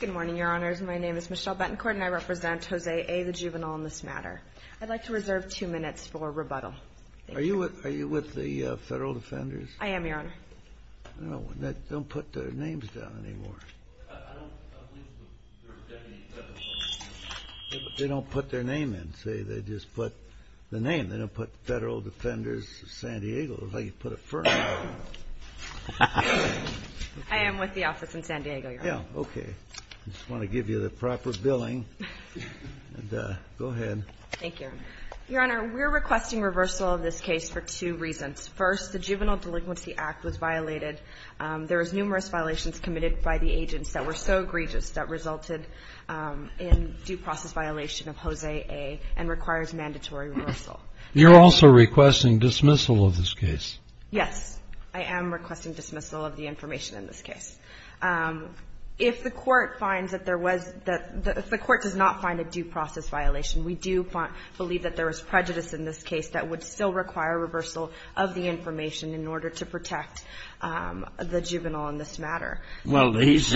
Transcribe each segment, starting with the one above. Good morning, your honors. My name is Michelle Betancourt, and I represent Jose A., the juvenile, in this matter. I'd like to reserve two minutes for rebuttal. Are you with the Federal Defenders? I am, your honor. Don't put their names down anymore. They don't put their name in. They just put the name. They don't put Federal Defenders of San Diego. It's like you put a firm name on it. I am with the office in San Diego, your honor. Okay. I just want to give you the proper billing, and go ahead. Thank you. Your honor, we're requesting reversal of this case for two reasons. First, the Juvenile Delinquency Act was violated. There was numerous violations committed by the agents that were so egregious that resulted in due process violation of Jose A. and requires mandatory reversal. You're also requesting dismissal of this case. Yes, I am requesting dismissal of the information in this case. If the court finds that there was the – if the court does not find a due process violation, we do believe that there was prejudice in this case that would still require reversal of the information in order to protect the juvenile in this matter. Well, he's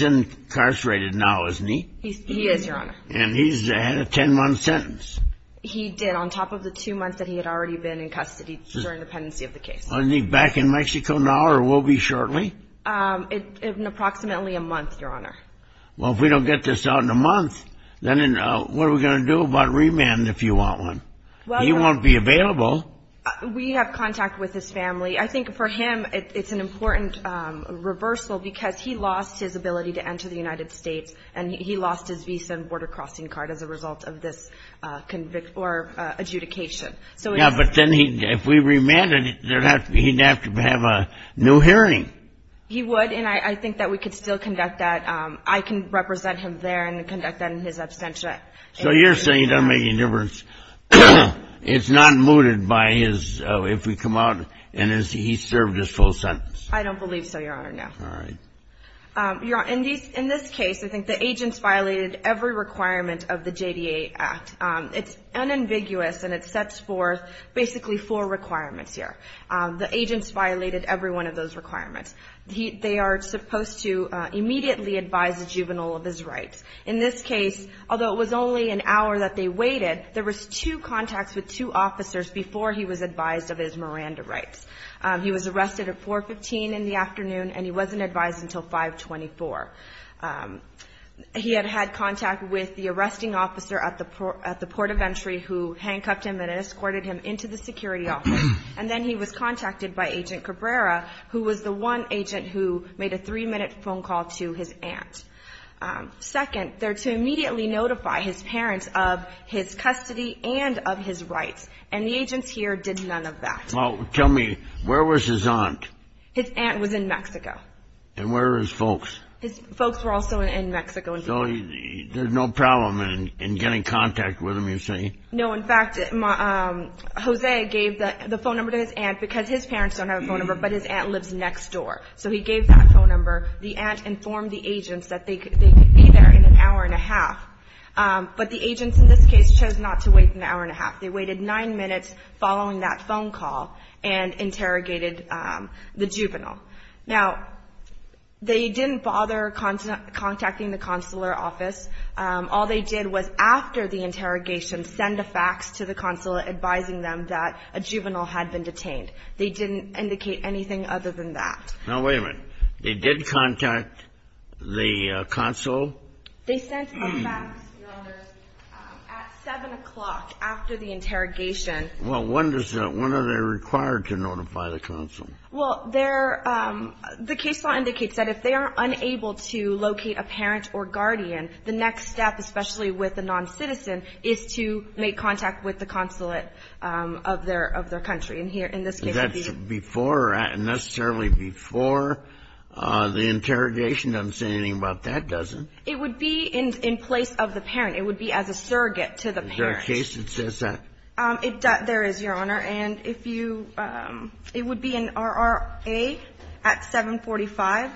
incarcerated now, isn't he? He is, your honor. And he's had a ten-month sentence. He did, on top of the two months that he had already been in custody during the pendency of the case. Is he back in Mexico now or will be shortly? In approximately a month, your honor. Well, if we don't get this out in a month, then what are we going to do about remand if you want one? He won't be available. We have contact with his family. I think for him it's an important reversal because he lost his ability to enter the United States, and he lost his visa and border crossing card as a result of this adjudication. Yeah, but then if we remanded, he'd have to have a new hearing. He would, and I think that we could still conduct that. I can represent him there and conduct that in his absentia. So you're saying it doesn't make any difference. It's not mooted by his – if we come out and he's served his full sentence. I don't believe so, your honor, no. All right. Your honor, in this case, I think the agents violated every requirement of the JDA Act. It's unambiguous, and it sets forth basically four requirements here. The agents violated every one of those requirements. They are supposed to immediately advise the juvenile of his rights. In this case, although it was only an hour that they waited, there was two contacts with two officers before he was advised of his Miranda rights. He was arrested at 415 in the afternoon, and he wasn't advised until 524. He had had contact with the arresting officer at the port of entry who handcuffed him and escorted him into the security office. And then he was contacted by Agent Cabrera, who was the one agent who made a three-minute phone call to his aunt. Second, they're to immediately notify his parents of his custody and of his rights. And the agents here did none of that. Well, tell me, where was his aunt? His aunt was in Mexico. And where were his folks? His folks were also in Mexico. So there's no problem in getting contact with him, you say? No. In fact, Jose gave the phone number to his aunt because his parents don't have a phone number, but his aunt lives next door. So he gave that phone number. The aunt informed the agents that they could be there in an hour and a half. But the agents in this case chose not to wait an hour and a half. They waited nine minutes following that phone call and interrogated the juvenile. Now, they didn't bother contacting the consular office. All they did was, after the interrogation, send a fax to the consulate advising them that a juvenile had been detained. They didn't indicate anything other than that. Now, wait a minute. They did contact the consul? They sent a fax, Your Honors, at 7 o'clock after the interrogation. Well, when are they required to notify the consul? Well, the case law indicates that if they are unable to locate a parent or guardian, the next step, especially with a non-citizen, is to make contact with the consulate of their country. And here, in this case, it would be the consul. Is that before or necessarily before the interrogation? It doesn't say anything about that, does it? It would be in place of the parent. It would be as a surrogate to the parent. Is there a case that says that? There is, Your Honor. And if you – it would be an RRA at 745,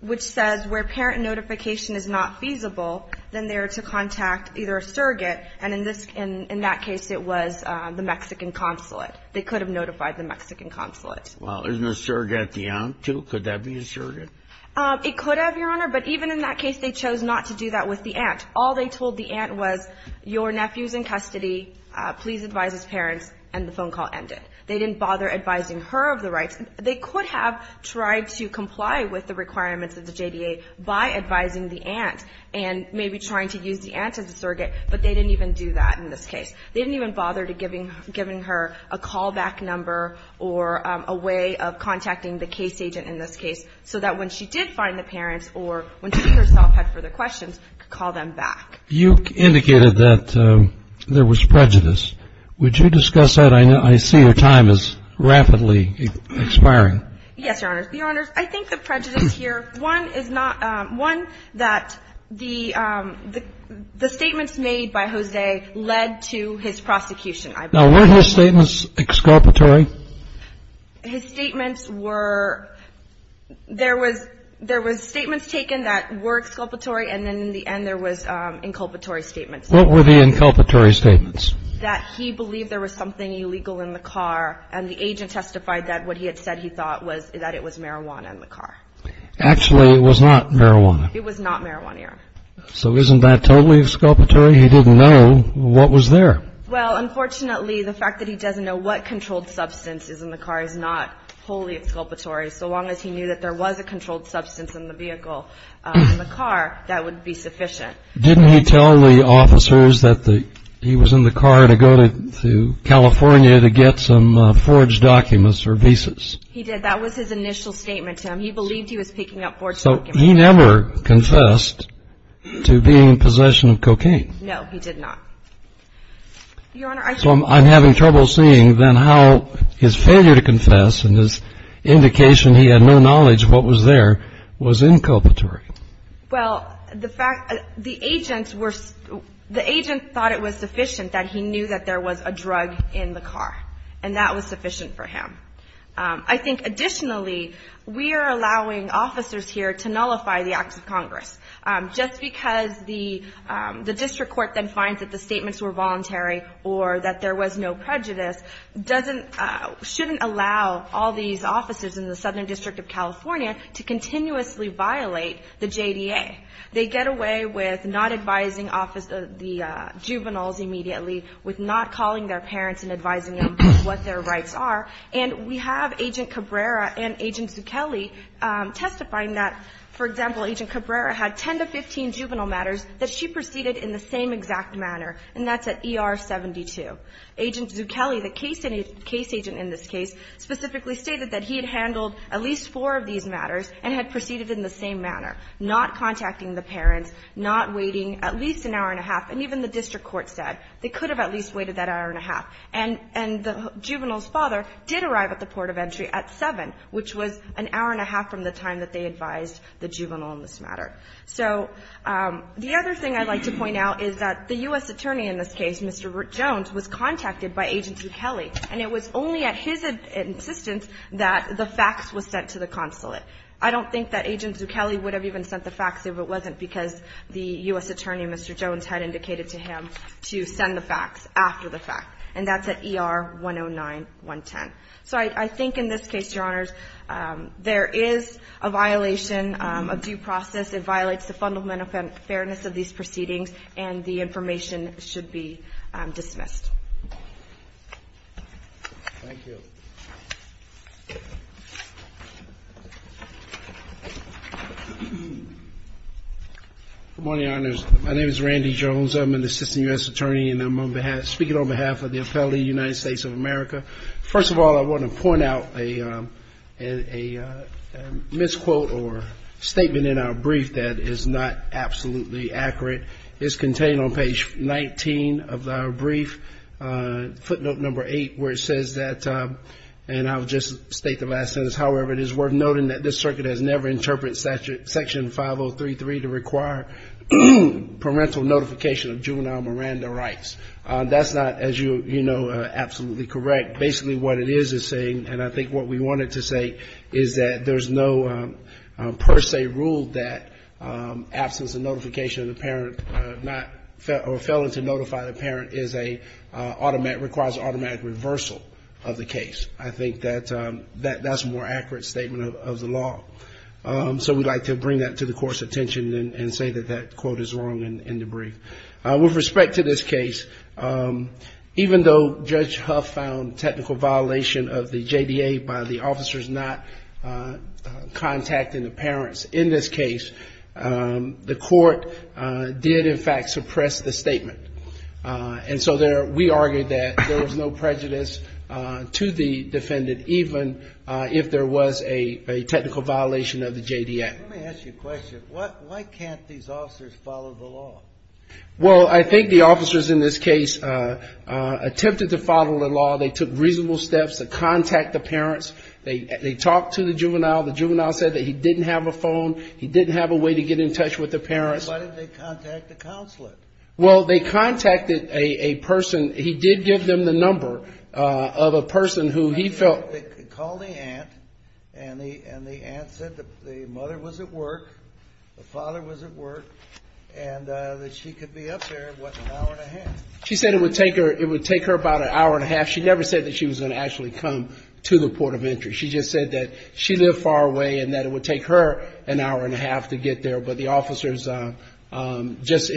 which says where parent notification is not feasible, then they are to contact either a surrogate. And in that case, it was the Mexican consulate. They could have notified the Mexican consulate. Well, isn't a surrogate the aunt, too? Could that be a surrogate? It could have, Your Honor. But even in that case, they chose not to do that with the aunt. All they told the aunt was, your nephew is in custody. Please advise his parents, and the phone call ended. They didn't bother advising her of the rights. They could have tried to comply with the requirements of the JDA by advising the aunt and maybe trying to use the aunt as a surrogate, but they didn't even do that in this case. They didn't even bother giving her a callback number or a way of contacting the case agent in this case so that when she did find the parents or when she herself had further questions, could call them back. You indicated that there was prejudice. Would you discuss that? I see your time is rapidly expiring. Yes, Your Honors. Your Honors, I think the prejudice here, one, is not – one, that the statements made by Jose led to his prosecution, I believe. Now, were his statements exculpatory? His statements were – there was statements taken that were exculpatory, and then in the end there was inculpatory statements. What were the inculpatory statements? That he believed there was something illegal in the car, and the agent testified that what he had said he thought was that it was marijuana in the car. Actually, it was not marijuana. It was not marijuana, Your Honor. So isn't that totally exculpatory? He didn't know what was there. Well, unfortunately, the fact that he doesn't know what controlled substance is in the car is not wholly exculpatory. So long as he knew that there was a controlled substance in the vehicle, in the car, that would be sufficient. Didn't he tell the officers that he was in the car to go to California to get some forged documents or visas? He did. That was his initial statement to him. He believed he was picking up forged documents. So he never confessed to being in possession of cocaine? No, he did not. Your Honor, I think... So I'm having trouble seeing then how his failure to confess and his indication he had no knowledge of what was there was inculpatory. Well, the fact that the agent thought it was sufficient that he knew that there was a drug in the car, and that was sufficient for him. I think, additionally, we are allowing officers here to nullify the acts of Congress. Just because the district court then finds that the statements were voluntary or that there was no prejudice doesn't – shouldn't allow all these officers in the Southern District of California to continuously violate the JDA. They get away with not advising the juveniles immediately, with not calling their parents and advising them what their rights are. And we have Agent Cabrera and Agent Zucchelli testifying that, for example, Agent Cabrera had 10 to 15 juvenile matters that she proceeded in the same exact manner, and that's at ER 72. Agent Zucchelli, the case agent in this case, specifically stated that he had handled at least four of these matters and had proceeded in the same manner, not contacting the parents, not waiting at least an hour and a half. And even the district court said they could have at least waited that hour and a half. And the juvenile's father did arrive at the port of entry at 7, which was an hour and a half from the time that they advised the juvenile on this matter. So the other thing I'd like to point out is that the U.S. attorney in this case, Mr. Jones, was contacted by Agent Zucchelli, and it was only at his insistence that the facts were sent to the consulate. I don't think that Agent Zucchelli would have even sent the facts if it wasn't because the U.S. attorney, Mr. Jones, had indicated to him to send the facts after the fact. And that's at ER 109-110. So I think in this case, Your Honors, there is a violation of due process. It violates the fundamental fairness of these proceedings, and the information should be dismissed. Thank you. Good morning, Your Honors. My name is Randy Jones. I'm an assistant U.S. attorney, and I'm speaking on behalf of the appellate of the United States of America. First of all, I want to point out a misquote or statement in our brief that is not absolutely accurate. It's contained on page 19 of our brief, footnote number 8, where it says that, and I'll just state the last sentence, however it is worth noting that this circuit has never interpreted Section 5033 to require parental notification of juvenile Miranda rights. That's not, as you know, absolutely correct. Basically what it is saying, and I think what we wanted to say, is that there's no per se rule that absence of notification of the parent, or failing to notify the parent, is a automatic, requires automatic reversal of the case. I think that that's a more accurate statement of the law. So we'd like to bring that to the Court's attention and say that that quote is wrong in the brief. With respect to this case, even though Judge Huff found technical violation of the JDA by the officers not contacting the parents in this case, the Court did, in fact, suppress the statement. And so we argued that there was no prejudice to the defendant, even if there was a technical violation of the JDA. Let me ask you a question. Why can't these officers follow the law? Well, I think the officers in this case attempted to follow the law. They took reasonable steps to contact the parents. They talked to the juvenile. The juvenile said that he didn't have a phone. He didn't have a way to get in touch with the parents. Why didn't they contact the consulate? Well, they contacted a person. He did give them the number of a person who he felt. They called the aunt, and the aunt said that the mother was at work, the father was at work, and that she could be up there, what, an hour and a half. She said it would take her about an hour and a half. She never said that she was going to actually come to the port of entry. She just said that she lived far away and that it would take her an hour and a half to get there. But the officers just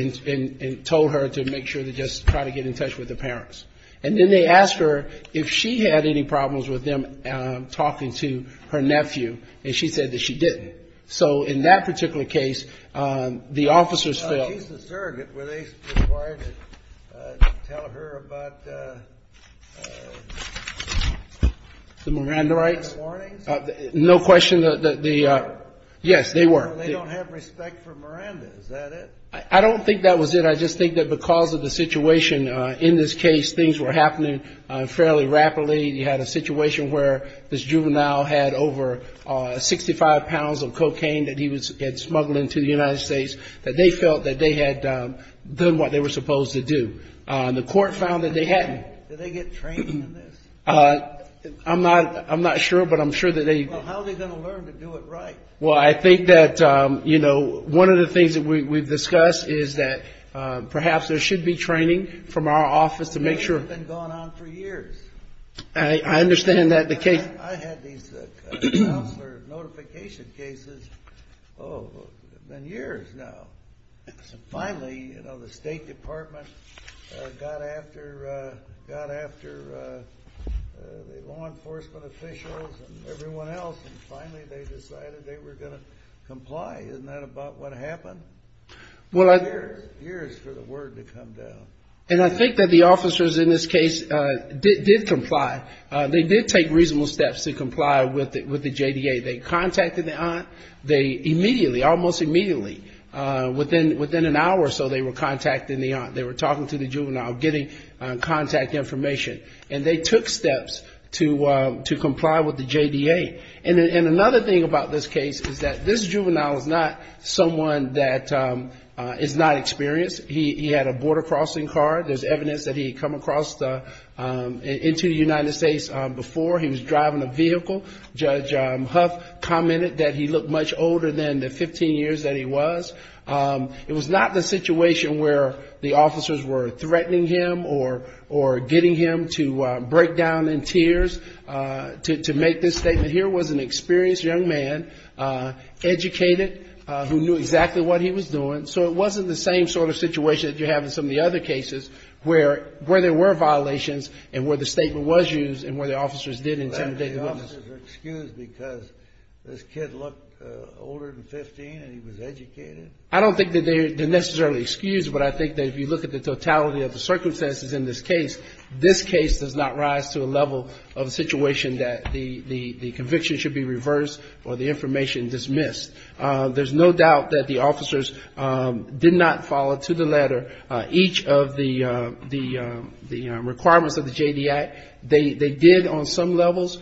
told her to make sure to just try to get in touch with the parents. And then they asked her if she had any problems with them talking to her nephew, and she said that she didn't. So in that particular case, the officers felt. She's a surrogate. Were they required to tell her about the Miranda rights? The Miranda warnings? No question. Yes, they were. They don't have respect for Miranda. Is that it? I don't think that was it. I just think that because of the situation in this case, things were happening fairly rapidly. You had a situation where this juvenile had over 65 pounds of cocaine that he had smuggled into the United States, that they felt that they had done what they were supposed to do. The court found that they hadn't. Did they get training in this? I'm not sure, but I'm sure that they did. Well, how are they going to learn to do it right? Well, I think that one of the things that we've discussed is that perhaps there should be training from our office to make sure. It's been going on for years. I understand that the case. I had these counselor notification cases. Oh, it's been years now. Finally, the State Department got after the law enforcement officials and everyone else, and finally they decided they were going to comply. Isn't that about what happened? Years for the word to come down. And I think that the officers in this case did comply. They did take reasonable steps to comply with the JDA. They contacted the aunt. They immediately, almost immediately, within an hour or so, they were contacting the aunt. They were talking to the juvenile, getting contact information. And they took steps to comply with the JDA. And another thing about this case is that this juvenile is not someone that is not experienced. He had a border crossing card. There's evidence that he had come across into the United States before. He was driving a vehicle. Judge Huff commented that he looked much older than the 15 years that he was. It was not the situation where the officers were threatening him or getting him to break down in tears to make this statement. Here was an experienced young man, educated, who knew exactly what he was doing. So it wasn't the same sort of situation that you have in some of the other cases where there were violations and where the statement was used and where the officers did intimidate the witness. The officers were excused because this kid looked older than 15 and he was educated? I don't think that they're necessarily excused, but I think that if you look at the totality of the circumstances in this case, this case does not rise to a level of a situation that the conviction should be reversed or the information dismissed. There's no doubt that the officers did not follow to the letter each of the requirements of the JDA. They did on some levels,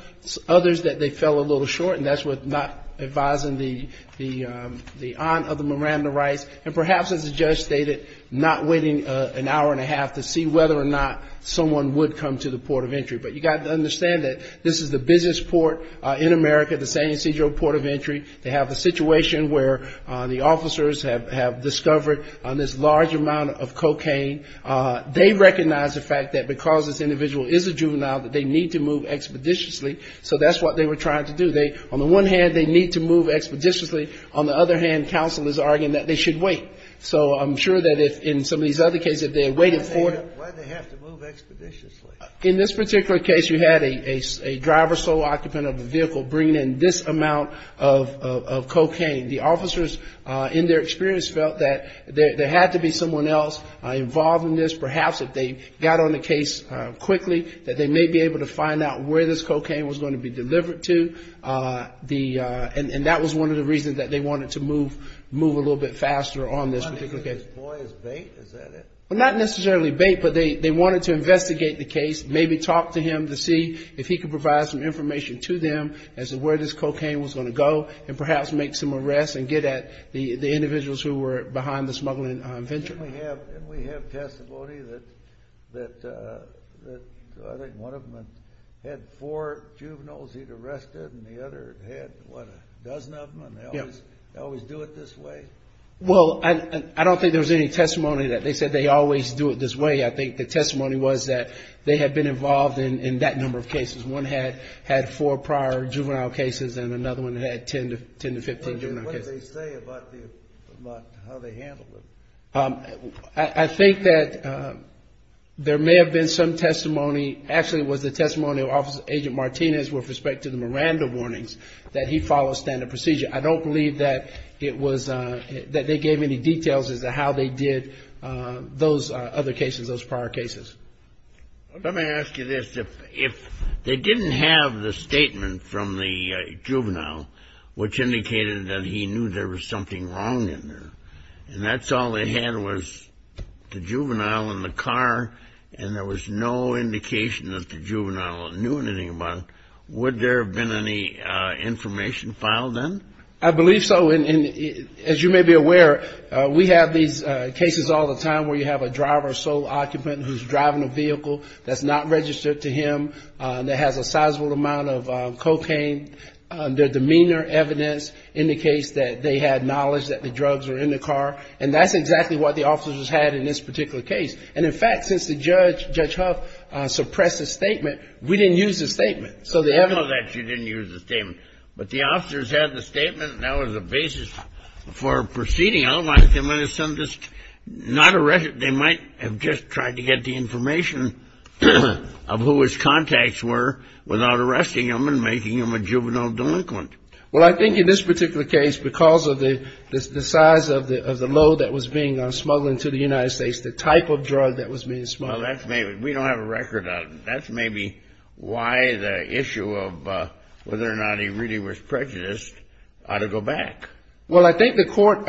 others that they fell a little short, and that's with not advising the aunt of the Miranda Rice. And perhaps, as the judge stated, not waiting an hour and a half to see whether or not someone would come to the port of entry. But you've got to understand that this is the business port in America, the San Ysidro Port of Entry. They have a situation where the officers have discovered this large amount of cocaine. They recognize the fact that because this individual is a juvenile, that they need to move expeditiously. So that's what they were trying to do. On the one hand, they need to move expeditiously. On the other hand, counsel is arguing that they should wait. So I'm sure that in some of these other cases, if they had waited for them. Why did they have to move expeditiously? In this particular case, you had a driver sole occupant of a vehicle bringing in this amount of cocaine. The officers, in their experience, felt that there had to be someone else involved in this. Perhaps if they got on the case quickly, that they may be able to find out where this cocaine was going to be delivered to. And that was one of the reasons that they wanted to move a little bit faster on this particular case. You want to use this boy as bait? Is that it? Well, not necessarily bait, but they wanted to investigate the case, maybe talk to him to see if he could provide some information to them as to where this cocaine was going to go, and perhaps make some arrests and get at the individuals who were behind the smuggling venture. Didn't we have testimony that I think one of them had four juveniles he'd arrested, and the other had, what, a dozen of them, and they always do it this way? Well, I don't think there was any testimony that they said they always do it this way. I think the testimony was that they had been involved in that number of cases. One had four prior juvenile cases, and another one had 10 to 15 juvenile cases. What did they say about how they handled it? I think that there may have been some testimony. Actually, it was the testimony of Agent Martinez with respect to the Miranda warnings, that he followed standard procedure. I don't believe that it was that they gave any details as to how they did those other cases, those prior cases. Let me ask you this. If they didn't have the statement from the juvenile, which indicated that he knew there was something wrong in there, and that's all they had was the juvenile in the car, and there was no indication that the juvenile knew anything about it, would there have been any information filed then? I believe so. As you may be aware, we have these cases all the time where you have a driver, sole occupant, who's driving a vehicle that's not registered to him, that has a sizable amount of cocaine. Their demeanor evidence indicates that they had knowledge that the drugs were in the car, and that's exactly what the officers had in this particular case. And, in fact, since Judge Huff suppressed the statement, we didn't use the statement. We know that you didn't use the statement. But the officers had the statement, and that was the basis for proceeding. Otherwise, they might have just tried to get the information of who his contacts were without arresting him and making him a juvenile delinquent. Well, I think in this particular case, because of the size of the load that was being smuggled into the United States, the type of drug that was being smuggled. Well, that's maybe. We don't have a record of it. That's maybe why the issue of whether or not he really was prejudiced ought to go back. Well, I think the court,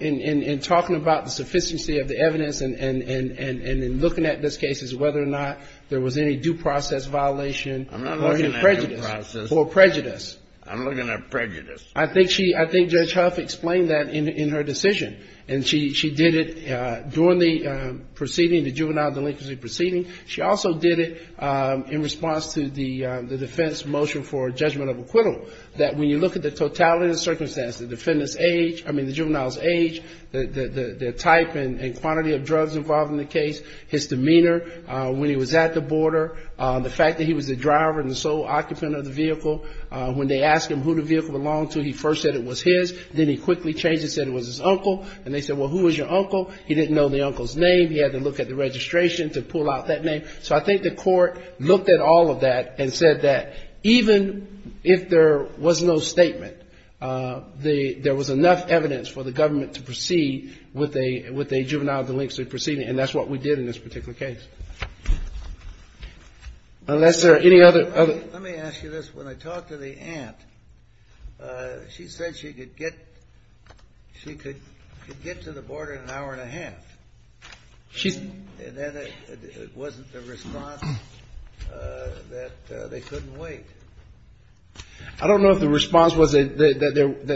in talking about the sufficiency of the evidence and in looking at this case, is whether or not there was any due process violation or any prejudice. I'm not looking at due process. Or prejudice. I'm looking at prejudice. I think Judge Huff explained that in her decision. And she did it during the proceeding, the juvenile delinquency proceeding. She also did it in response to the defense motion for judgment of acquittal, that when you look at the totality of the circumstances, the defendant's age, I mean the juvenile's age, the type and quantity of drugs involved in the case, his demeanor when he was at the border, the fact that he was the driver and the sole occupant of the vehicle. When they asked him who the vehicle belonged to, he first said it was his. Then he quickly changed it and said it was his uncle. And they said, well, who was your uncle? He didn't know the uncle's name. He had to look at the registration to pull out that name. So I think the court looked at all of that and said that even if there was no statement, there was enough evidence for the government to proceed with a juvenile delinquency proceeding. And that's what we did in this particular case. Unless there are any other. Let me ask you this. When I talked to the aunt, she said she could get to the border in an hour and a half. And then it wasn't the response that they couldn't wait. I don't know if the response was that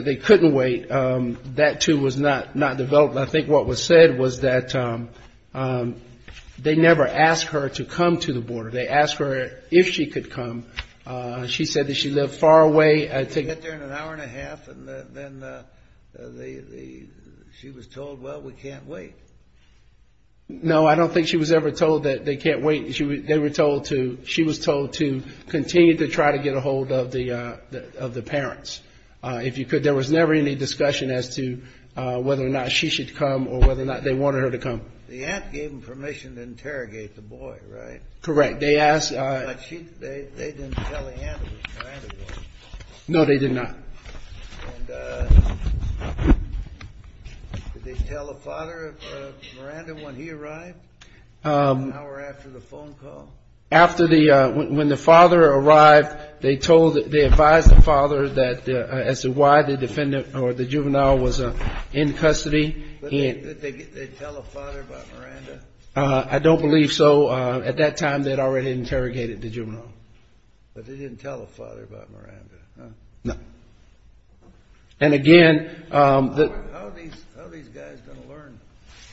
they couldn't wait. That, too, was not developed. I think what was said was that they never asked her to come to the border. They asked her if she could come. She said that she lived far away. She could get there in an hour and a half, and then she was told, well, we can't wait. No, I don't think she was ever told that they can't wait. They were told to, she was told to continue to try to get a hold of the parents. If you could, there was never any discussion as to whether or not she should come or whether or not they wanted her to come. The aunt gave them permission to interrogate the boy, right? Correct. They didn't tell the aunt that Miranda was there. No, they did not. And did they tell the father of Miranda when he arrived, an hour after the phone call? When the father arrived, they advised the father as to why the juvenile was in custody. Did they tell the father about Miranda? I don't believe so. At that time, they had already interrogated the juvenile. But they didn't tell the father about Miranda, huh? No. And again- How are these guys going to learn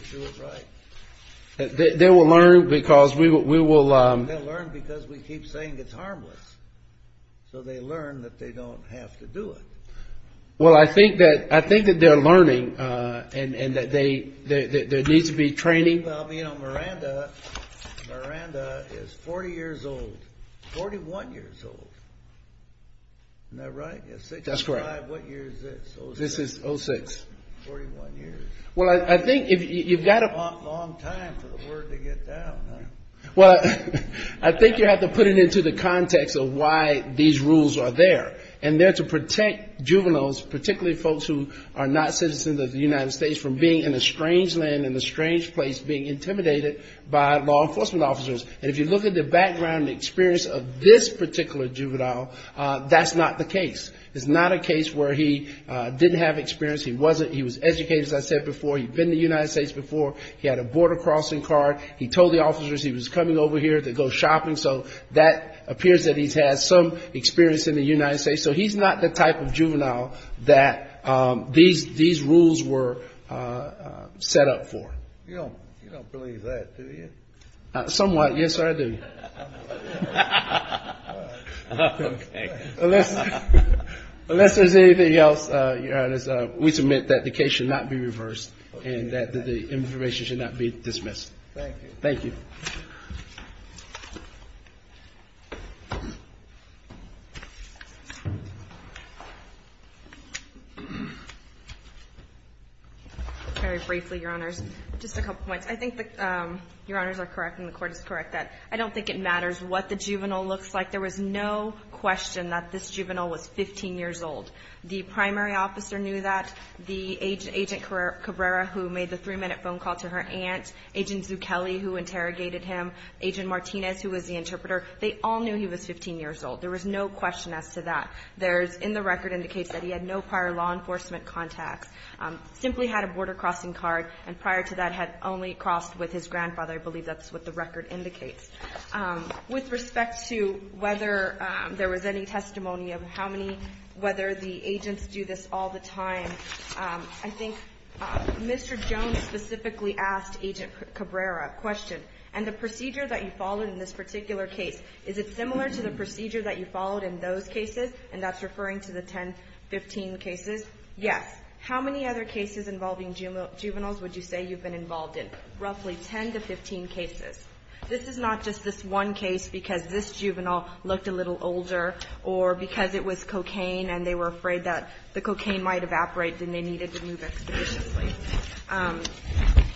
to do it right? They will learn because we will- They'll learn because we keep saying it's harmless. So they learn that they don't have to do it. Well, I think that they're learning and that there needs to be training. Well, you know, Miranda is 40 years old. 41 years old. Isn't that right? That's correct. What year is this? This is 06. 41 years. Well, I think if you've got to- Long time for the word to get down, huh? Well, I think you have to put it into the context of why these rules are there. And they're to protect juveniles, particularly folks who are not citizens of the United States, from being in a strange land, in a strange place, being intimidated by law enforcement officers. And if you look at the background, the experience of this particular juvenile, that's not the case. It's not a case where he didn't have experience. He wasn't-he was educated, as I said before. He'd been in the United States before. He had a border crossing card. He told the officers he was coming over here to go shopping. So that appears that he's had some experience in the United States. So he's not the type of juvenile that these rules were set up for. You don't believe that, do you? Somewhat, yes, sir, I do. Unless there's anything else, we submit that the case should not be reversed and that the information should not be dismissed. Thank you. Very briefly, Your Honors. Just a couple points. I think that Your Honors are correct and the Court is correct that I don't think it matters what the juvenile looks like. There was no question that this juvenile was 15 years old. The primary officer knew that. The Agent Cabrera, who made the 3-minute phone call to her aunt, Agent Zucchelli, who interrogated him, Agent Martinez, who was the interpreter, they all knew he was 15 years old. There was no question as to that. There's, in the record, indicates that he had no prior law enforcement contacts, simply had a border crossing card, and prior to that had only crossed with his grandfather. I believe that's what the record indicates. With respect to whether there was any testimony of how many, whether the agents do this all the time, I think Mr. Jones specifically asked Agent Cabrera a question. And the procedure that you followed in this particular case, is it similar to the procedure that you followed in those cases, and that's referring to the 10, 15 cases? Yes. How many other cases involving juveniles would you say you've been involved in? Roughly 10 to 15 cases. This is not just this one case because this juvenile looked a little older or because it was cocaine and they were afraid that the cocaine might evaporate and they needed to move expeditiously.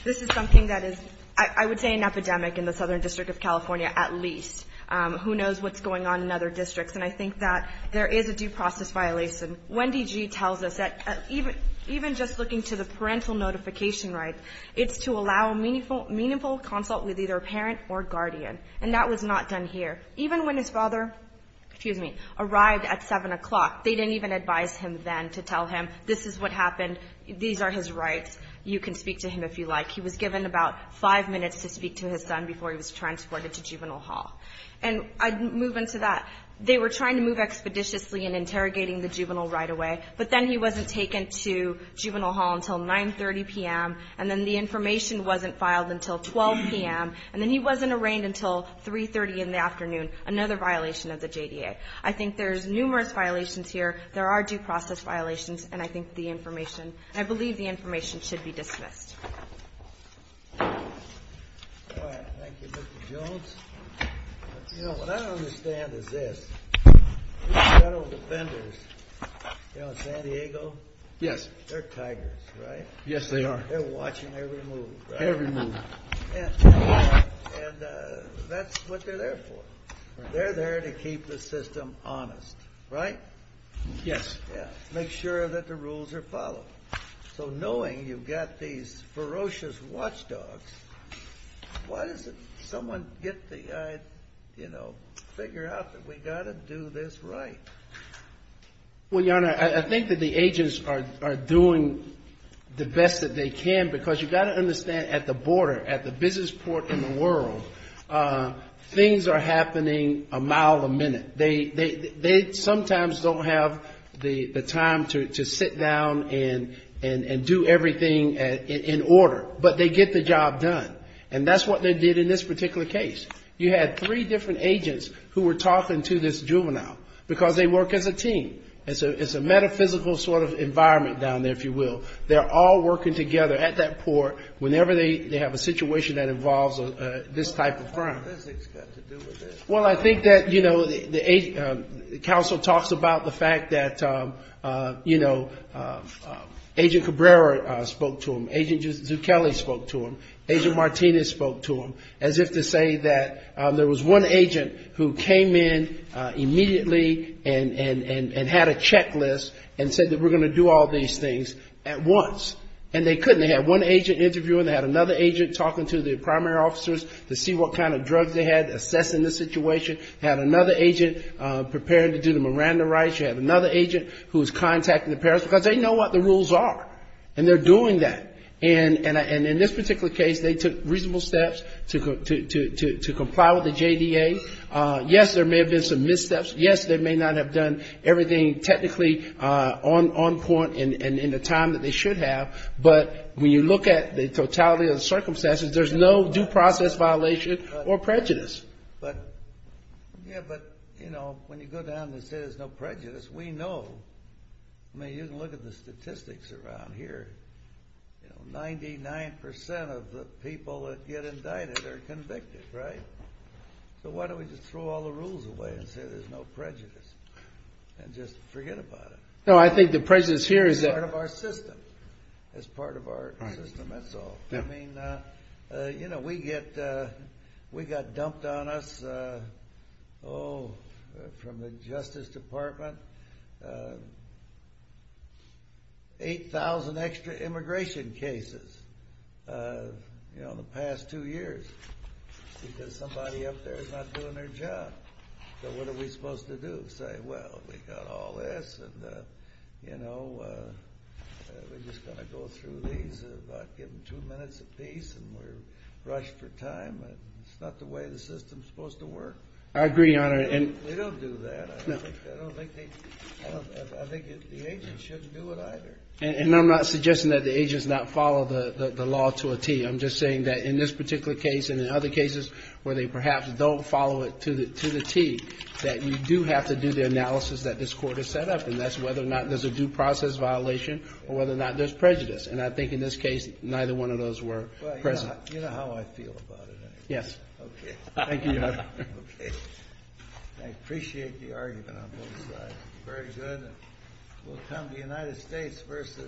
This is something that is, I would say, an epidemic in the Southern District of California at least. Who knows what's going on in other districts? And I think that there is a due process violation. Wendy G. tells us that even just looking to the parental notification rights, it's to allow meaningful consult with either a parent or guardian. And that was not done here. Even when his father, excuse me, arrived at 7 o'clock, they didn't even advise him then to tell him, this is what happened, these are his rights, you can speak to him if you like. He was given about five minutes to speak to his son before he was transported to juvenile hall. And I'd move into that. They were trying to move expeditiously and interrogating the juvenile right away, but then he wasn't taken to juvenile hall until 9.30 p.m., and then the information wasn't filed until 12 p.m., and then he wasn't arraigned until 3.30 in the afternoon, another violation of the JDA. I think there's numerous violations here. There are due process violations, and I think the information, I believe the information should be dismissed. All right. Thank you, Mr. Jones. You know, what I don't understand is this. Federal defenders, you know, in San Diego? Yes. They're tigers, right? Yes, they are. They're watching every move, right? Every move. And that's what they're there for. They're there to keep the system honest, right? Yes. Yeah. Make sure that the rules are followed. So knowing you've got these ferocious watchdogs, why doesn't someone get the, you know, figure out that we've got to do this right? Well, Your Honor, I think that the agents are doing the best that they can because you've got to understand at the border, at the business port in the world, things are happening a mile a minute. They sometimes don't have the time to sit down and do everything in order, but they get the job done. And that's what they did in this particular case. You had three different agents who were talking to this juvenile because they work as a team. It's a metaphysical sort of environment down there, if you will. They're all working together at that port whenever they have a situation that involves this type of crime. What does this have to do with it? Well, I think that, you know, the counsel talks about the fact that, you know, Agent Cabrera spoke to him. Agent Zucchelli spoke to him. Agent Martinez spoke to him. As if to say that there was one agent who came in immediately and had a checklist and said that we're going to do all these things. And they couldn't. They had one agent interviewing. They had another agent talking to the primary officers to see what kind of drugs they had, assessing the situation. They had another agent preparing to do the Miranda rights. You had another agent who was contacting the parents because they know what the rules are. And they're doing that. And in this particular case, they took reasonable steps to comply with the JDA. Yes, there may have been some missteps. Yes, they may not have done everything technically on point and in the time that they should have. But when you look at the totality of the circumstances, there's no due process violation or prejudice. But, yeah, but, you know, when you go down and say there's no prejudice, we know. I mean, you can look at the statistics around here. Ninety-nine percent of the people that get indicted are convicted, right? So why don't we just throw all the rules away and say there's no prejudice and just forget about it? No, I think the prejudice here is that. It's part of our system. It's part of our system, that's all. I mean, you know, we get, we got dumped on us, oh, from the Justice Department, 8,000 extra immigration cases, you know, the past two years. Because somebody up there is not doing their job. So what are we supposed to do? Say, well, we got all this and, you know, we're just going to go through these, give them two minutes apiece, and we're rushed for time. It's not the way the system's supposed to work. I agree, Your Honor. We don't do that. I don't think they, I think the agents shouldn't do it either. I'm just saying that in this particular case and in other cases where they perhaps don't follow it to the T, that you do have to do the analysis that this Court has set up. And that's whether or not there's a due process violation or whether or not there's prejudice. And I think in this case, neither one of those were present. You know how I feel about it. Yes. Okay. Thank you, Your Honor. Okay. I appreciate the argument on both sides. Very good. We'll come to the United States versus.